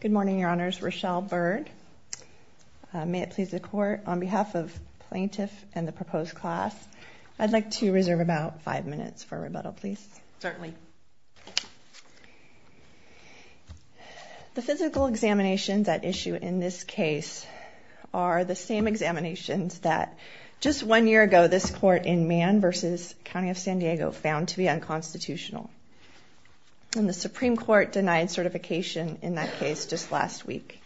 Good morning, Your Honors. Rochelle Bird. May it please the Court, on behalf of the plaintiff and the proposed class, I'd like to reserve about five minutes for rebuttal, please. Certainly. The physical examinations at issue in this case are the same examinations that just one year ago this Court in Mann v. County of San Diego found to be unconstitutional, and the Supreme Court denied certification in that case just last week.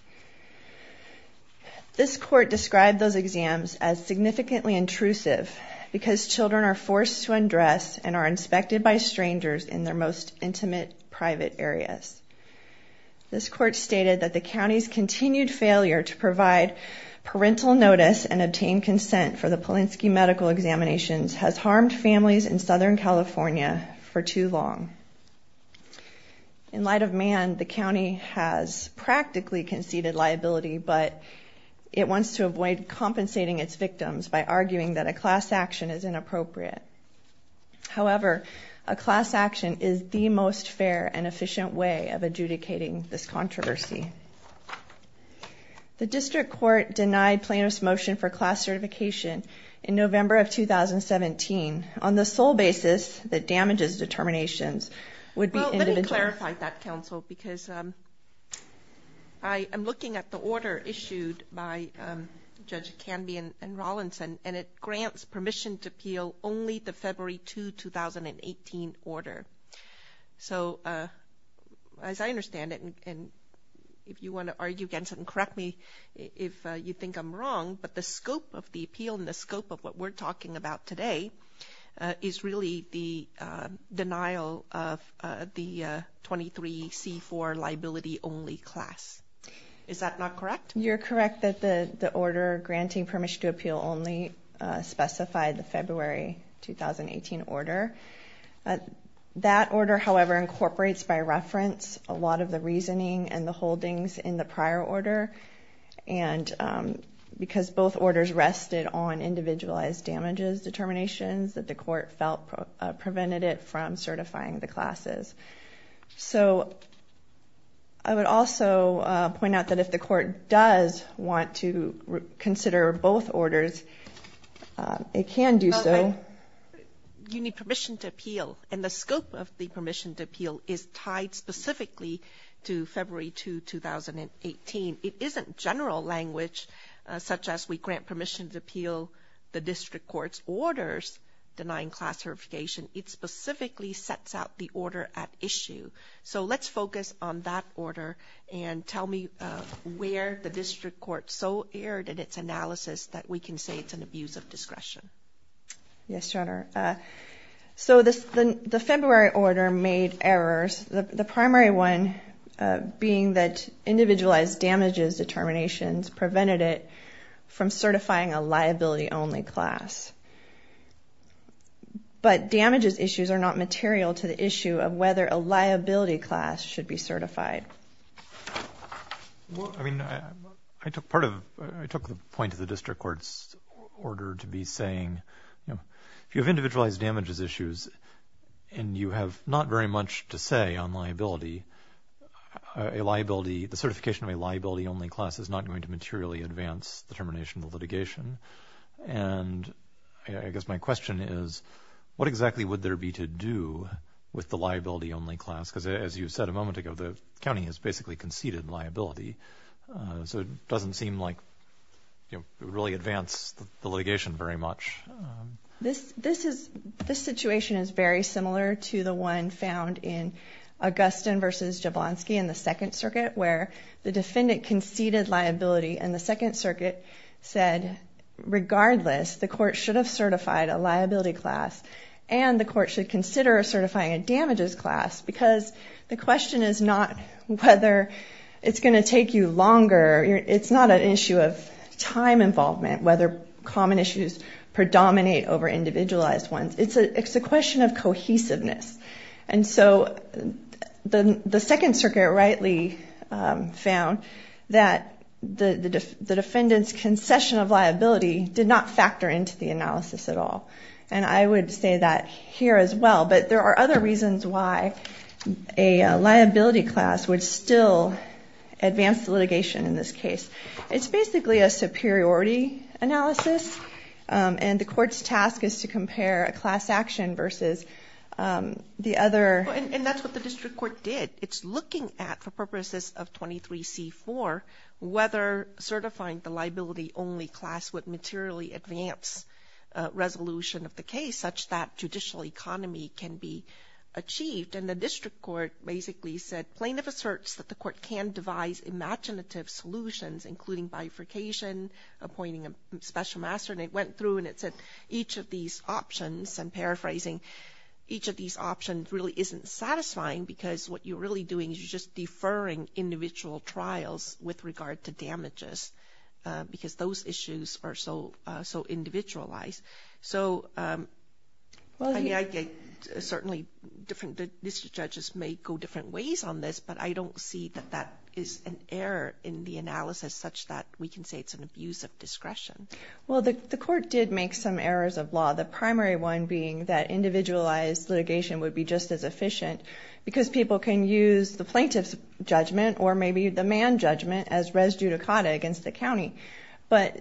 This Court described those exams as significantly intrusive because children are forced to undress and are inspected by strangers in their most intimate, private areas. This Court stated that the County's continued failure to provide parental notice and obtain consent for the Polinsky medical examinations has harmed families in Southern California for too long. In light of Mann, the County has practically conceded liability, but it wants to avoid compensating its victims by arguing that a class action is inappropriate. However, a class action is the most fair and efficient way of adjudicating this controversy. The District Court denied plaintiff's motion for class certification in November of 2017 on the sole basis that damages determinations would be individual. Well, let me clarify that, counsel, because I am looking at the order issued by Judge Canby and Rawlinson, and it grants permission to appeal only the February 2, 2018, order. So, as I understand it, and if you want to argue against it and correct me if you think I'm wrong, but the scope of the appeal and the scope of what we're talking about today is really the denial of the 23C4 liability only class. Is that not correct? You're correct that the order granting permission to appeal only specified the February 2018 order. That order, however, incorporates by reference a lot of the reasoning and the holdings in the prior order, and because both orders rested on individualized damages determinations that the court felt prevented it from certifying the classes. So, I would also point out that if the court does want to consider both orders, it can do so. You need permission to appeal, and the scope of the permission to appeal is tied specifically to February 2, 2018. It isn't general language, such as we grant permission to appeal the District Court's denying class certification. It specifically sets out the order at issue. So, let's focus on that order and tell me where the District Court so erred in its analysis that we can say it's an abuse of discretion. Yes, Your Honor. So, the February order made errors. The primary one being that individualized damages determinations prevented it from certifying a liability-only class, but damages issues are not material to the issue of whether a liability class should be certified. Well, I mean, I took part of, I took the point of the District Court's order to be saying, you know, if you have individualized damages issues and you have not very much to say on liability, a liability, the certification of a liability-only class is not going to happen. And, I guess my question is, what exactly would there be to do with the liability-only class? Because as you said a moment ago, the county has basically conceded liability, so it doesn't seem like, you know, it would really advance the litigation very much. This situation is very similar to the one found in Augustin v. Jablonski in the Second Circuit said, regardless, the court should have certified a liability class and the court should consider certifying a damages class because the question is not whether it's going to take you longer. It's not an issue of time involvement, whether common issues predominate over individualized ones. It's a question of cohesiveness. And so, the Second Circuit rightly found that the defendant's concession of liability did not factor into the analysis at all. And I would say that here as well, but there are other reasons why a liability class would still advance the litigation in this case. It's basically a superiority analysis and the court's task is to compare a class action versus the other. And that's what the district court did. It's looking at, for purposes of 23C4, whether certifying the liability only class would materially advance resolution of the case such that judicial economy can be achieved. And the district court basically said, plaintiff asserts that the court can devise imaginative solutions including bifurcation, appointing a special master, and it went through and it said each of these options, and paraphrasing, each of these options really isn't satisfying because what you're really doing is you're just deferring individual trials with regard to damages because those issues are so individualized. So, I mean, I get, certainly, different district judges may go different ways on this, but I don't see that that is an error in the analysis such that we can say it's an abuse of discretion. Well, the court did make some errors of law. The primary one being that individualized litigation would be just as efficient because people can use the plaintiff's judgment or maybe the man judgment as res judicata against the county, but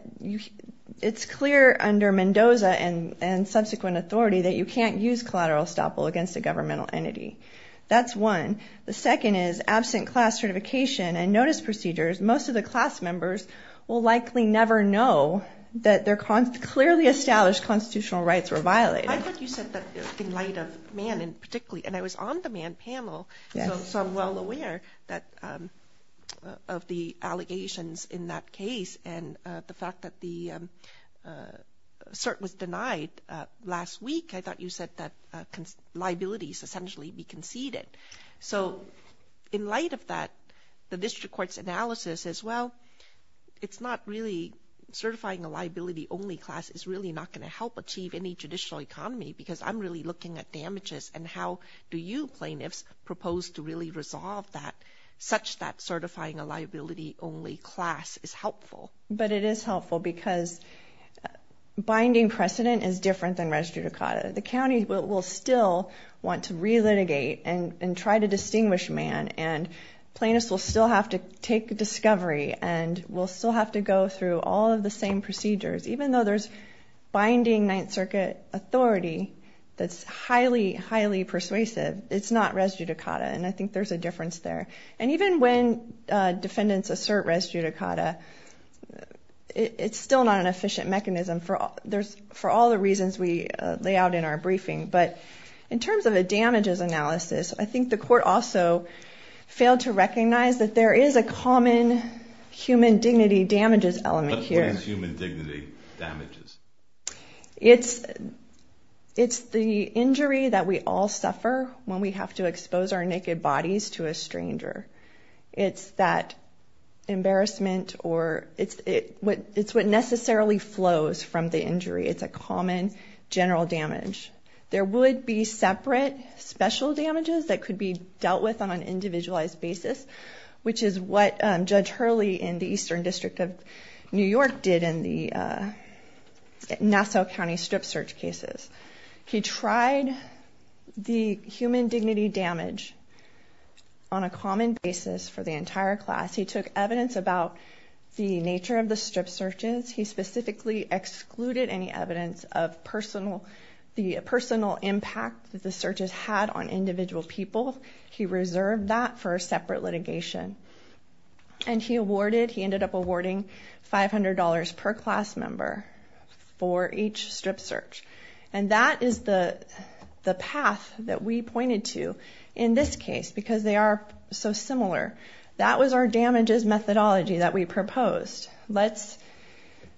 it's clear under Mendoza and subsequent authority that you can't use collateral estoppel against a governmental entity. That's one. The second is absent class certification and notice procedures, most of the class members will likely never know that their clearly established constitutional rights were violated. I thought you said that in light of man in particularly, and I was on the man panel, so I'm well aware of the allegations in that case and the fact that the cert was denied last week. I thought you said that liabilities essentially be conceded. So in light of that, the district court's analysis as well, it's not really certifying a liability only class is really not going to help achieve any judicial economy because I'm really looking at damages and how do you plaintiffs propose to really resolve that such that certifying a liability only class is helpful. But it is helpful because binding precedent is different than res judicata. The county will still want to relitigate and try to distinguish man and plaintiffs will still have to take discovery and will still have to go through all of the same procedures. Even though there's binding Ninth Circuit authority that's highly, highly persuasive, it's not res judicata and I think there's a difference there. And even when defendants assert res judicata, it's still not an efficient mechanism for all the reasons we lay out in our briefing. But in terms of a damages analysis, I think the court also failed to recognize that there is a common human dignity damages element here. What is human dignity damages? It's the injury that we all suffer when we have to expose our naked bodies to a stranger. It's that embarrassment or it's what necessarily flows from the injury. It's a common general damage. There would be separate special damages that could be dealt with on an individualized basis, which is what Judge Hurley in the Eastern District of New York did in the Nassau County strip search cases. He tried the human dignity damage on a common basis for the entire class. He took evidence about the nature of the strip searches. He specifically excluded any evidence of the personal impact that the searches had on individual people. He reserved that for a separate litigation. And he ended up awarding $500 per class member for each strip search. And that is the path that we pointed to in this case because they are so similar. That was our damages methodology that we proposed. Let's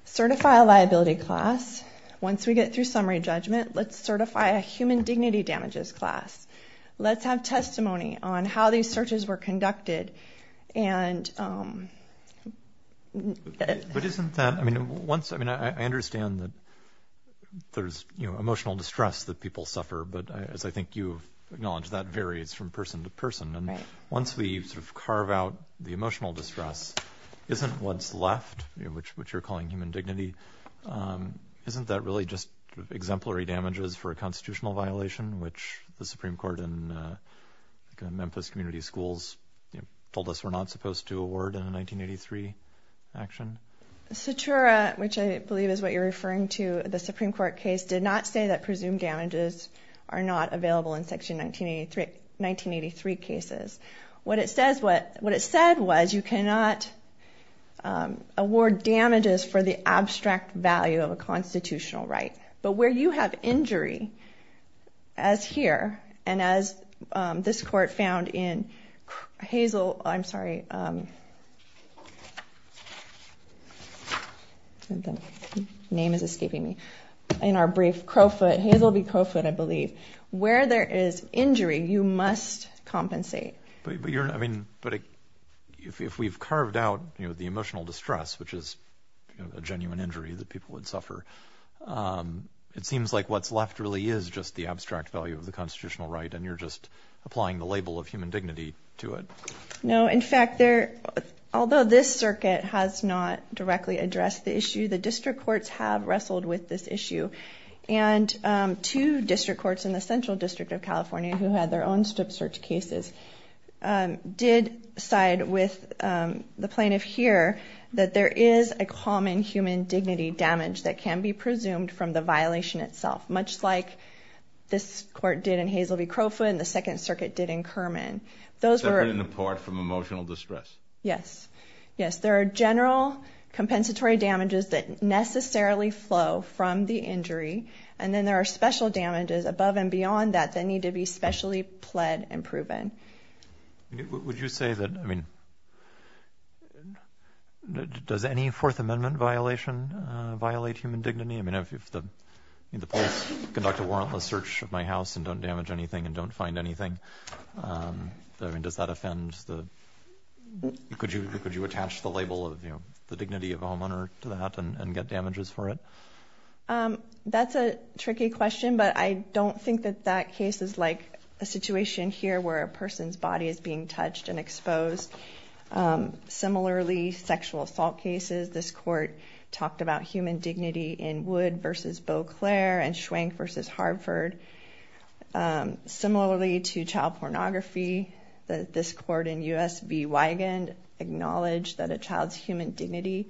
certify a liability class. Once we get through summary judgment, let's certify a human dignity damages class. Let's have testimony on how these searches were conducted. But isn't that, I mean, once, I mean, I understand that there's, you know, emotional distress that people suffer, but as I think you acknowledge, that varies from person to person. And once we sort of carve out the emotional distress, isn't what's left, which you're calling human dignity, isn't that really just exemplary damages for a constitutional violation, which the Supreme Court in Memphis Community Schools told us we're not supposed to award in a 1983 action? Satura, which I believe is what you're referring to, the Supreme Court case, did not say that presumed damages are not available in Section 1983 cases. What it said was you cannot award damages for the abstract value of a constitutional right. But where you have injury, as here, and as this court found in Hazel, I'm sorry, name is escaping me, in our brief Crowfoot, Hazel v. Crowfoot, I believe, where there is injury, you must compensate. But if we've carved out, you know, the emotional distress, which is a genuine injury that people would suffer, it seems like what's left really is just the abstract value of the constitutional right, and you're just applying the label of human dignity to it. No, in fact, although this circuit has not directly addressed the issue, the district courts have wrestled with this issue, and two district courts in the Central District of California, who had their own strip search cases, did side with the plaintiff here that there is a common human dignity damage that can be presumed from the violation itself, much like this court did in Hazel v. Crowfoot and the Second Circuit did in Kerman. Those were... Separate and apart from emotional distress. Yes. Yes, there are general compensatory damages that necessarily flow from the injury, and then there are special damages above and beyond that that need to be specially pled and proven. Would you say that, I mean, does any Fourth Amendment violation violate human dignity? I mean, if the police conduct a warrantless search of my house and don't damage anything and don't find anything, I mean, does that offend the... Could you attach the label of, you know, the dignity of a homeowner to that and get damages for it? That's a tricky question, but I don't think that that case is like a situation here where a person's body is being touched and exposed. Similarly, sexual assault cases, this court talked about human dignity in Wood v. Beauclair and Schwenk v. Harford. Similarly to child pornography, this court in U.S. v. Wigand acknowledged that a child's human dignity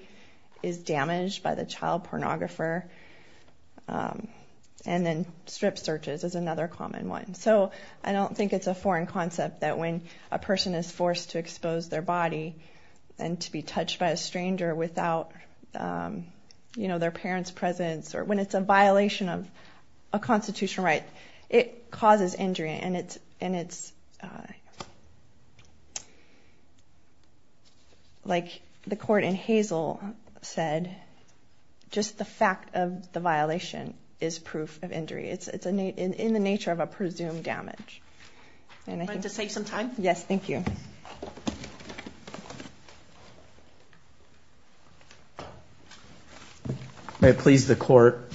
is damaged by the child pornographer. And then strip searches is another common one. So I don't think it's a foreign concept that when a person is forced to expose their body and to be touched by a stranger without, you know, their parents' presence, or when it's a violation of a constitutional right, it causes injury and it's... Like the court in Hazel said, just the fact of the violation is proof of injury. It's in the nature of a presumed damage. Do you want to take some time? Yes, thank you. May it please the court,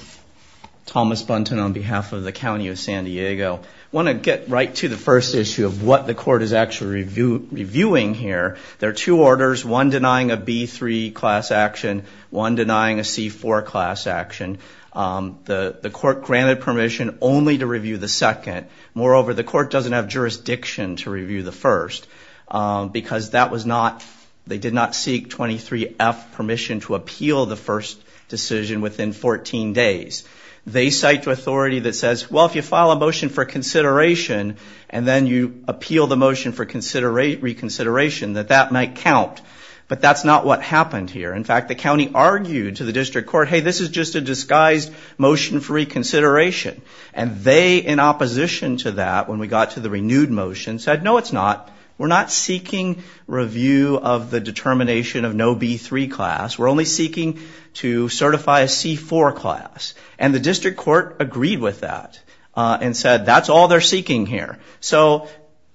Thomas Bunton on behalf of the County of San Diego. I want to get right to the first issue of what the court is actually reviewing here. There are two orders, one denying a B-3 class action, one denying a C-4 class action. The court granted permission only to review the second. Moreover, the court doesn't have jurisdiction to review the first because that was not... They did not seek 23-F permission to appeal the first decision within 14 days. They cite to authority that says, well, if you file a motion for consideration and then you appeal the motion for reconsideration, that that might count. But that's not what happened here. In fact, the county argued to the district court, hey, this is just a disguised motion for reconsideration. And they, in opposition to that, when we got to the renewed motion, said, no, it's not. We're not seeking review of the determination of no B-3 class. We're only seeking to certify a C-4 class. And the district court agreed with that and said, that's all they're seeking here. So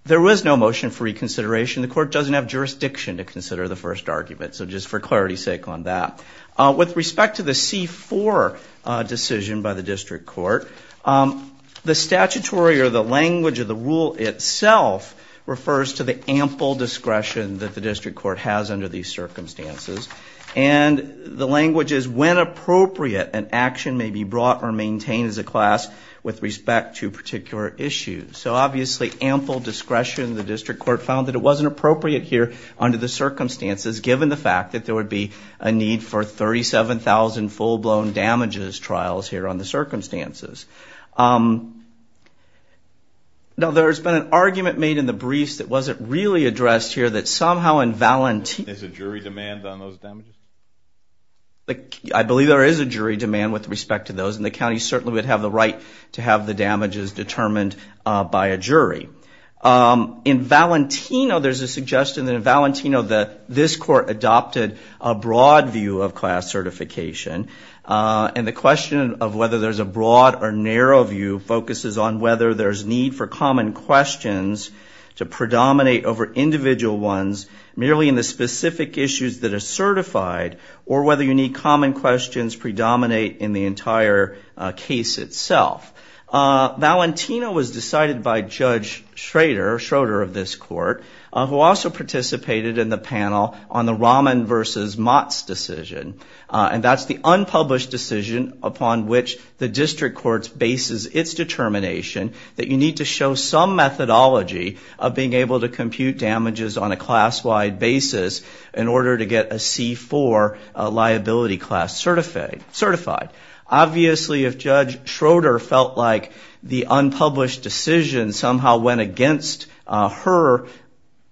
there was no motion for reconsideration. The court doesn't have jurisdiction to consider the first argument. So just for clarity's sake on that. With respect to the C-4 decision by the district court, the statutory or the language of the rule itself refers to the ample discretion that the district court has under these circumstances. And the language is, when appropriate, an action may be brought or maintained as a class with respect to a particular issue. So obviously, ample discretion, the district court found that it wasn't appropriate here under the circumstances, given the fact that there would be a need for 37,000 full-blown damages trials here under the circumstances. Now, there's been an argument made in the briefs that wasn't really addressed here, that somehow in Valentino. There's a jury demand on those damages? I believe there is a jury demand with respect to those. And the county certainly would have the right to have the damages determined by a jury. In Valentino, there's a suggestion that in Valentino that this court adopted a broad view of class certification. And the question of whether there's a broad or narrow view focuses on whether there's need for common questions to predominate over individual ones, merely in the specific issues that are certified, or whether you need common questions predominate in the entire case itself. Valentino was decided by Judge Schroeder of this court, who also participated in the panel on the Rahman versus Motz decision. And that's the unpublished decision upon which the district court bases its determination that you need to show some methodology of being able to compute damages on a class-wide basis in order to get a C4 liability class certified. Obviously, if Judge Schroeder felt like the unpublished decision somehow went against her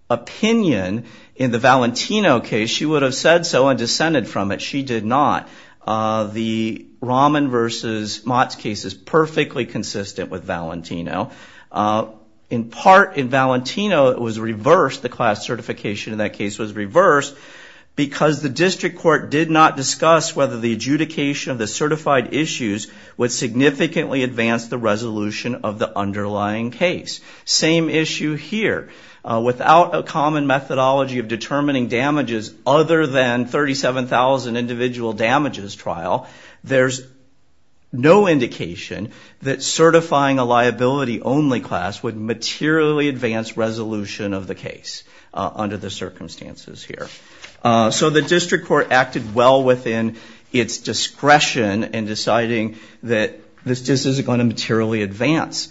opinion in the Valentino case, she would have said so and dissented from it. She did not. The Rahman versus Motz case is perfectly consistent with Valentino. In part, in Valentino, it was reversed. The class certification in that case was reversed because the district court did not discuss whether the adjudication of the certified issues would significantly advance the resolution of the underlying case. Same issue here. Without a common methodology of determining damages other than 37,000 individual damages trial, there's no indication that certifying a liability-only class would materially advance resolution of the case under the circumstances here. So the district court acted well within its discretion in deciding that this just isn't going to materially advance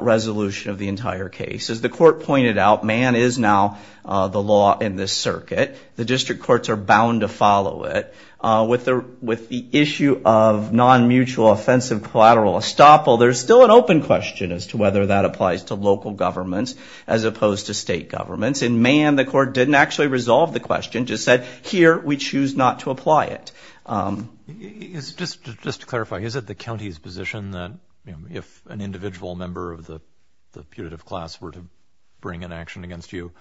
resolution of the entire case. As the court pointed out, Mann is now the law in this circuit. The district courts are bound to follow it. With the issue of non-mutual offensive collateral estoppel, there's still an open question as to whether that applies to local governments as opposed to state governments. In Mann, the court didn't actually resolve the question, just said, here, we choose not to apply it. Just to clarify, is it the county's position that if an individual member of the putative class were to bring an action against you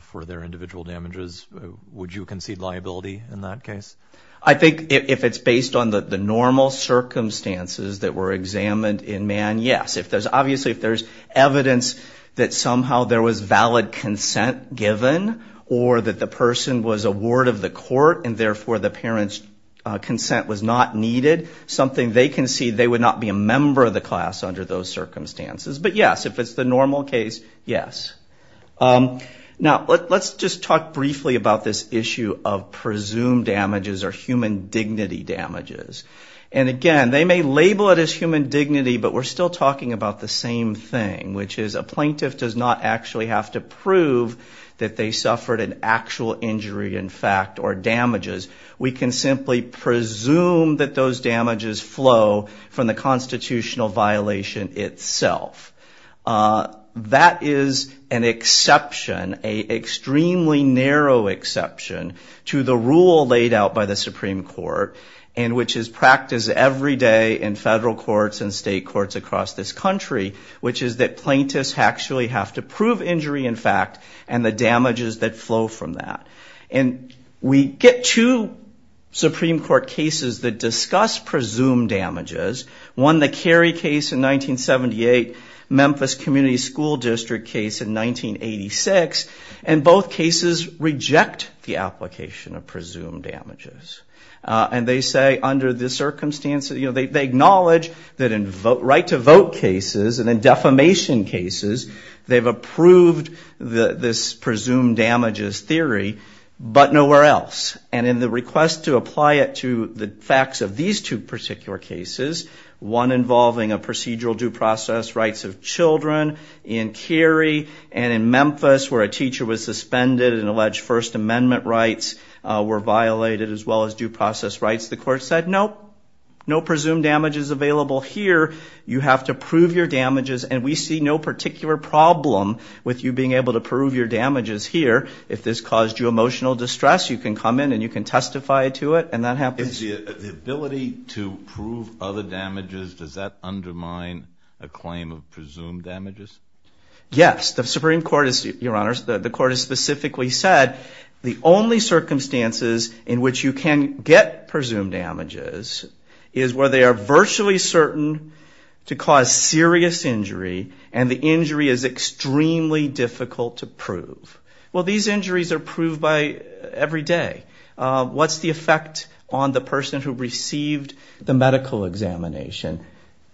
for their individual damages, would you concede liability in that case? I think if it's based on the normal circumstances that were examined in Mann, yes. Obviously, if there's evidence that somehow there was valid consent given or that the person was a ward of the court and therefore the parent's consent was not needed, something they concede they would not be a member of the class under those circumstances. But yes, if it's the normal case, yes. Now let's just talk briefly about this issue of presumed damages or human dignity damages. Again, they may label it as human dignity, but we're still talking about the same thing, which is a plaintiff does not actually have to prove that they suffered an actual injury in fact or damages. We can simply presume that those damages flow from the constitutional violation itself. That is an exception, an extremely narrow exception to the rule laid out by the Supreme Court and which is practiced every day in federal courts and state courts across this country, which is that plaintiffs actually have to prove injury in fact and the damages that flow from that. We get two Supreme Court cases that discuss presumed damages. One the Carey case in 1978, Memphis Community School District case in 1986, and both cases reject the application of presumed damages. And they say under the circumstances, they acknowledge that in right to vote cases and in defamation cases, they've approved this presumed damages theory, but nowhere else. And in the request to apply it to the facts of these two particular cases, one involving a procedural due process rights of children in Carey and in Memphis where a teacher was judged, First Amendment rights were violated as well as due process rights. The court said, nope, no presumed damages available here. You have to prove your damages and we see no particular problem with you being able to prove your damages here. If this caused you emotional distress, you can come in and you can testify to it and that happens. The ability to prove other damages, does that undermine a claim of presumed damages? Yes. The Supreme Court, Your Honors, the court has specifically said the only circumstances in which you can get presumed damages is where they are virtually certain to cause serious injury and the injury is extremely difficult to prove. Well these injuries are proved by every day. What's the effect on the person who received the medical examination?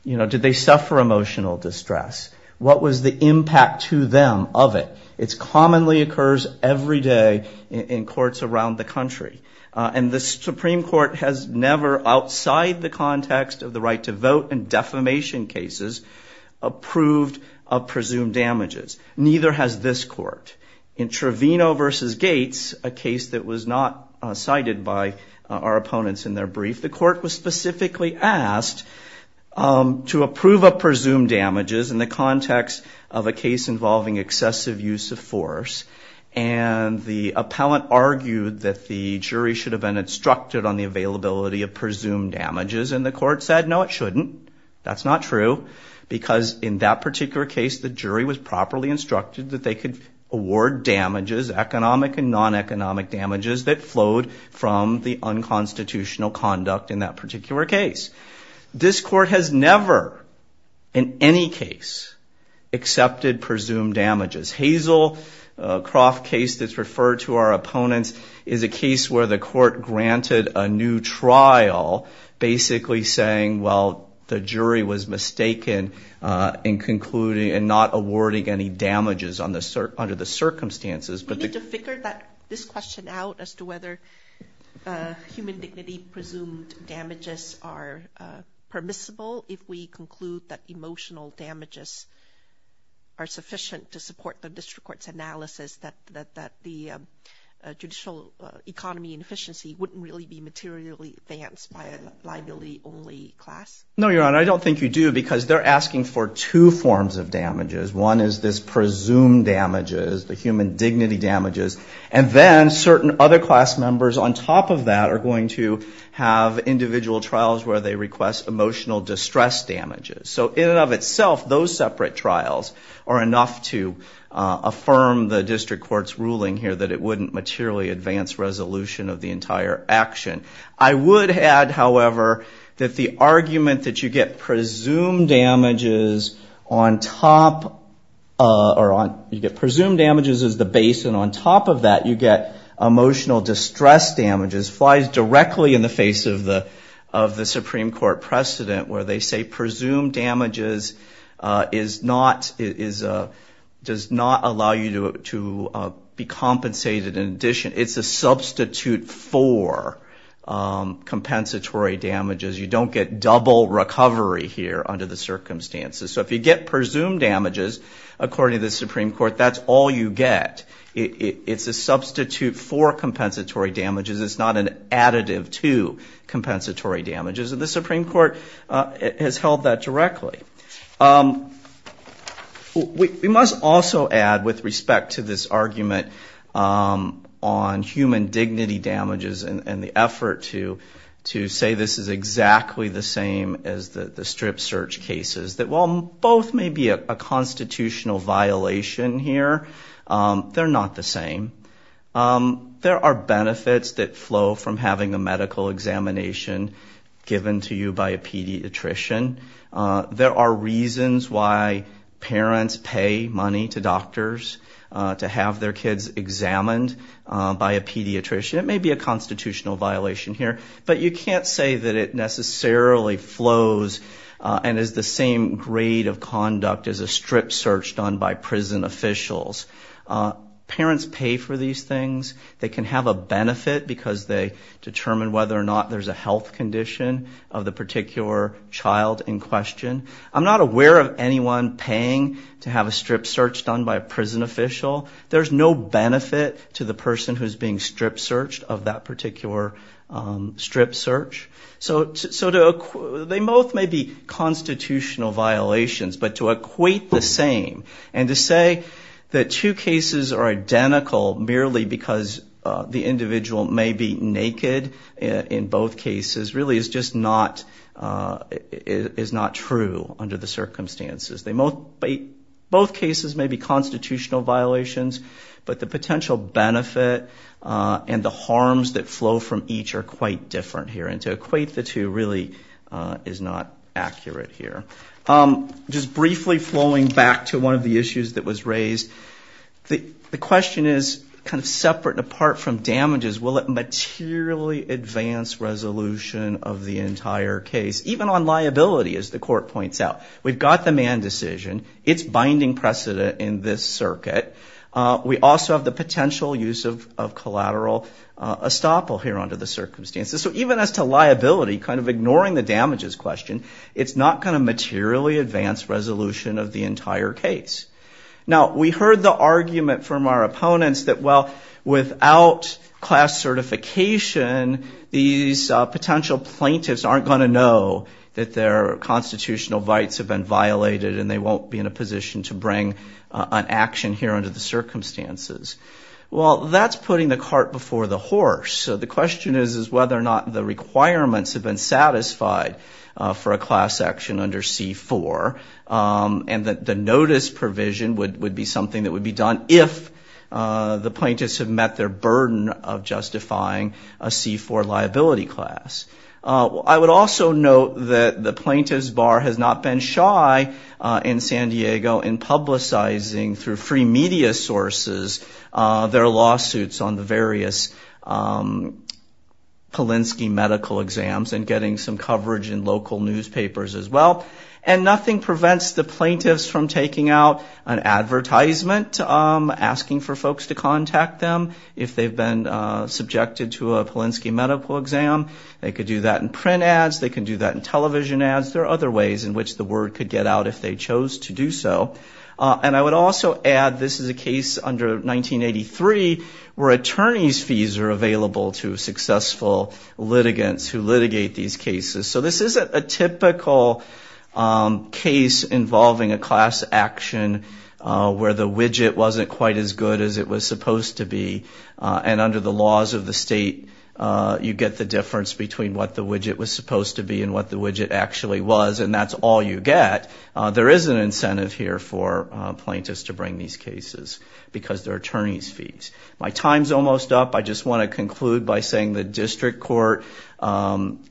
Did they suffer emotional distress? What was the impact to them of it? It commonly occurs every day in courts around the country and the Supreme Court has never outside the context of the right to vote and defamation cases approved of presumed damages. Neither has this court. In Trevino v. Gates, a case that was not cited by our opponents in their brief, the court was specifically asked to approve of presumed damages in the context of a case involving excessive use of force and the appellant argued that the jury should have been instructed on the availability of presumed damages and the court said no it shouldn't. That's not true because in that particular case the jury was properly instructed that they could award damages, economic and non-economic damages that flowed from the unconstitutional conduct in that particular case. This court has never in any case accepted presumed damages. Hazel Croft case that's referred to our opponents is a case where the court granted a new trial basically saying well the jury was mistaken in concluding and not awarding any damages under the circumstances. Do we need to figure this question out as to whether human dignity presumed damages are permissible if we conclude that emotional damages are sufficient to support the district court's analysis that the judicial economy and efficiency wouldn't really be materially advanced by a liability only class? No Your Honor, I don't think you do because they're asking for two forms of damages. One is this presumed damages, the human dignity damages and then certain other class members on top of that are going to have individual trials where they request emotional distress damages. So in and of itself those separate trials are enough to affirm the district court's ruling here that it wouldn't materially advance resolution of the entire action. I would add, however, that the argument that you get presumed damages as the base and on top of that you get emotional distress damages flies directly in the face of the Supreme Court precedent where they say presumed damages does not allow you to be compensated in addition. It's a substitute for compensatory damages. You don't get double recovery here under the circumstances. So if you get presumed damages, according to the Supreme Court, that's all you get. It's a substitute for compensatory damages. It's not an additive to compensatory damages and the Supreme Court has held that directly. We must also add with respect to this argument on human dignity damages and the effort to say this is exactly the same as the strip search cases that while both may be a constitutional violation here, they're not the same. There are benefits that flow from having a medical examination given to you by a pediatrician. There are reasons why parents pay money to doctors to have their kids examined by a pediatrician. It may be a constitutional violation here, but you can't say that it necessarily flows and is the same grade of conduct as a strip search done by prison officials. Parents pay for these things. They can have a benefit because they determine whether or not there's a health condition of the particular child in question. I'm not aware of anyone paying to have a strip search done by a prison official. There's no benefit to the person who's being strip searched of that particular strip search. So they both may be constitutional violations, but to equate the same and to say that two cases are identical merely because the individual may be naked in both cases really is just not true under the circumstances. Both cases may be constitutional violations, but the potential benefit and the harms that flow from each are quite different here. And to equate the two really is not accurate here. Just briefly flowing back to one of the issues that was raised, the question is kind of separate and apart from damages. Will it materially advance resolution of the entire case, even on liability, as the court points out? We've got the Mann decision. It's binding precedent in this circuit. We also have the potential use of collateral estoppel here under the circumstances. So even as to liability, kind of ignoring the damages question, it's not going to materially advance resolution of the entire case. Now, we heard the argument from our opponents that, well, without class certification, these potential plaintiffs aren't going to know that their constitutional rights have been violated and they won't be in a position to bring an action here under the circumstances. Well, that's putting the cart before the horse. So the question is, is whether or not the requirements have been satisfied for a class section under C-4, and that the notice provision would be something that would be done if the plaintiffs have met their burden of justifying a C-4 liability class. I would also note that the Plaintiff's Bar has not been shy in San Diego in publicizing through free media sources their lawsuits on the various Polinsky medical exams and getting some coverage in local newspapers as well. And nothing prevents the plaintiffs from taking out an advertisement asking for folks to contact them if they've been subjected to a Polinsky medical exam. They could do that in print ads. They can do that in television ads. There are other ways in which the word could get out if they chose to do so. And I would also add, this is a case under 1983 where attorney's fees are available to bring these cases. So this isn't a typical case involving a class action where the widget wasn't quite as good as it was supposed to be. And under the laws of the state, you get the difference between what the widget was supposed to be and what the widget actually was. And that's all you get. There is an incentive here for plaintiffs to bring these cases because they're attorney's fees. My time's almost up. I just want to conclude by saying the district court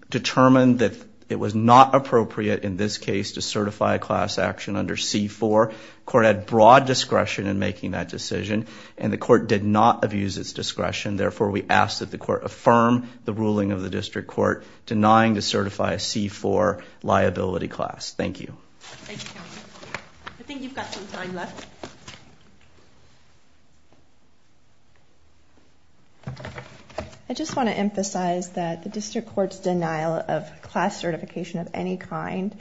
determined that it was not appropriate in this case to certify a class action under C-4. Court had broad discretion in making that decision and the court did not abuse its discretion. Therefore, we ask that the court affirm the ruling of the district court denying to certify a C-4 liability class. Thank you. I think you've got some time left. I just want to emphasize that the district court's denial of class certification of any kind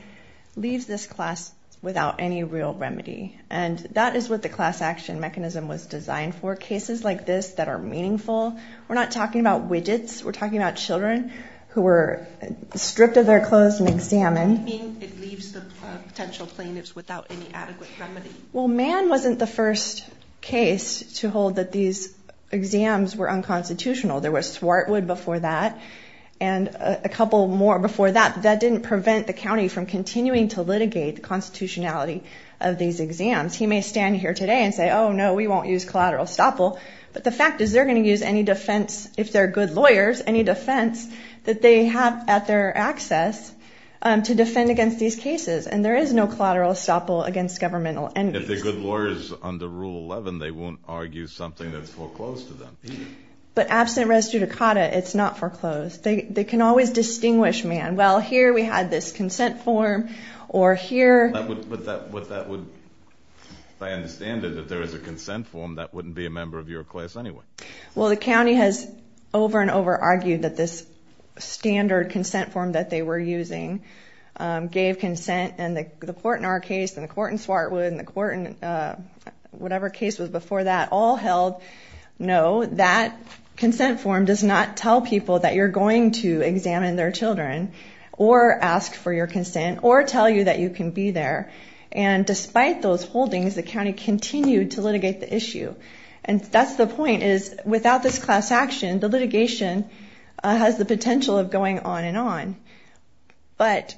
leaves this class without any real remedy. And that is what the class action mechanism was designed for. Cases like this that are meaningful. We're not talking about widgets. We're talking about children who were stripped of their clothes and examined. It leaves the potential plaintiffs without any adequate remedy. Well, Mann wasn't the first case to hold that these exams were unconstitutional. There was Swartwood before that and a couple more before that. That didn't prevent the county from continuing to litigate the constitutionality of these exams. He may stand here today and say, oh, no, we won't use collateral estoppel. But the fact is they're going to use any defense, if they're good lawyers, any defense that they have at their access to defend against these cases. And there is no collateral estoppel against governmental enemies. If they're good lawyers under Rule 11, they won't argue something that's foreclosed to them. But absent res judicata, it's not foreclosed. They can always distinguish, Mann. Well, here we had this consent form or here. But that would, if I understand it, if there is a consent form, that wouldn't be a member of your class anyway. Well, the county has over and over argued that this standard consent form that they were using gave consent and the court in our case and the court in Swartwood and the court in whatever case was before that all held, no, that consent form does not tell people that you're going to examine their children or ask for your consent or tell you that you can be there. And despite those holdings, the county continued to litigate the issue. And that's the point is without this class action, the litigation has the potential of going on and on. But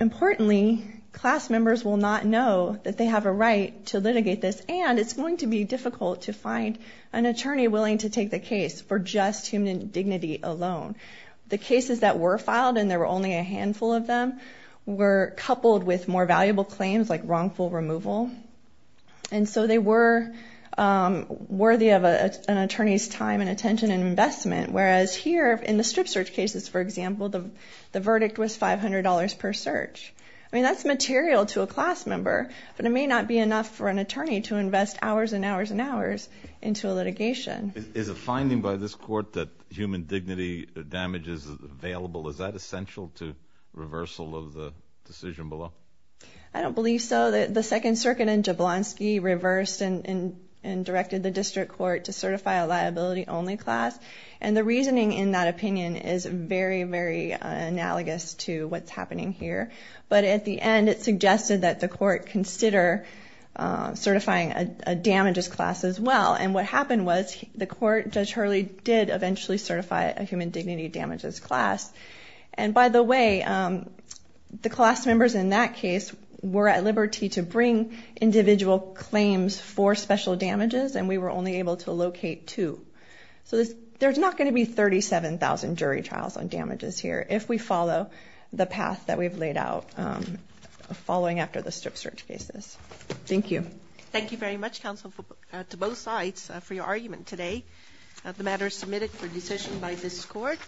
importantly, class members will not know that they have a right to litigate this, and it's going to be difficult to find an attorney willing to take the case for just human dignity alone. The cases that were filed and there were only a handful of them were coupled with more valuable claims like wrongful removal. And so they were worthy of an attorney's time and attention and investment, whereas here in the strip search cases, for example, the verdict was five hundred dollars per search. I mean, that's material to a class member, but it may not be enough for an attorney to invest hours and hours and hours into a litigation. Is a finding by this court that human dignity damage is available? Is that essential to reversal of the decision below? I don't believe so. The Second Circuit in Jablonski reversed and directed the district court to certify a liability only class. And the reasoning in that opinion is very, very analogous to what's happening here. But at the end, it suggested that the court consider certifying a damages class as well. And what happened was the court, Judge Hurley did eventually certify a human dignity damages class. And by the way, the class members in that case were at liberty to bring individual claims for special damages. And we were only able to locate two. So there's not going to be thirty seven thousand jury trials on damages here if we follow the path that we've laid out following after the strip search cases. Thank you. Thank you very much, counsel, to both sides for your argument today. The matter is submitted for decision by this court.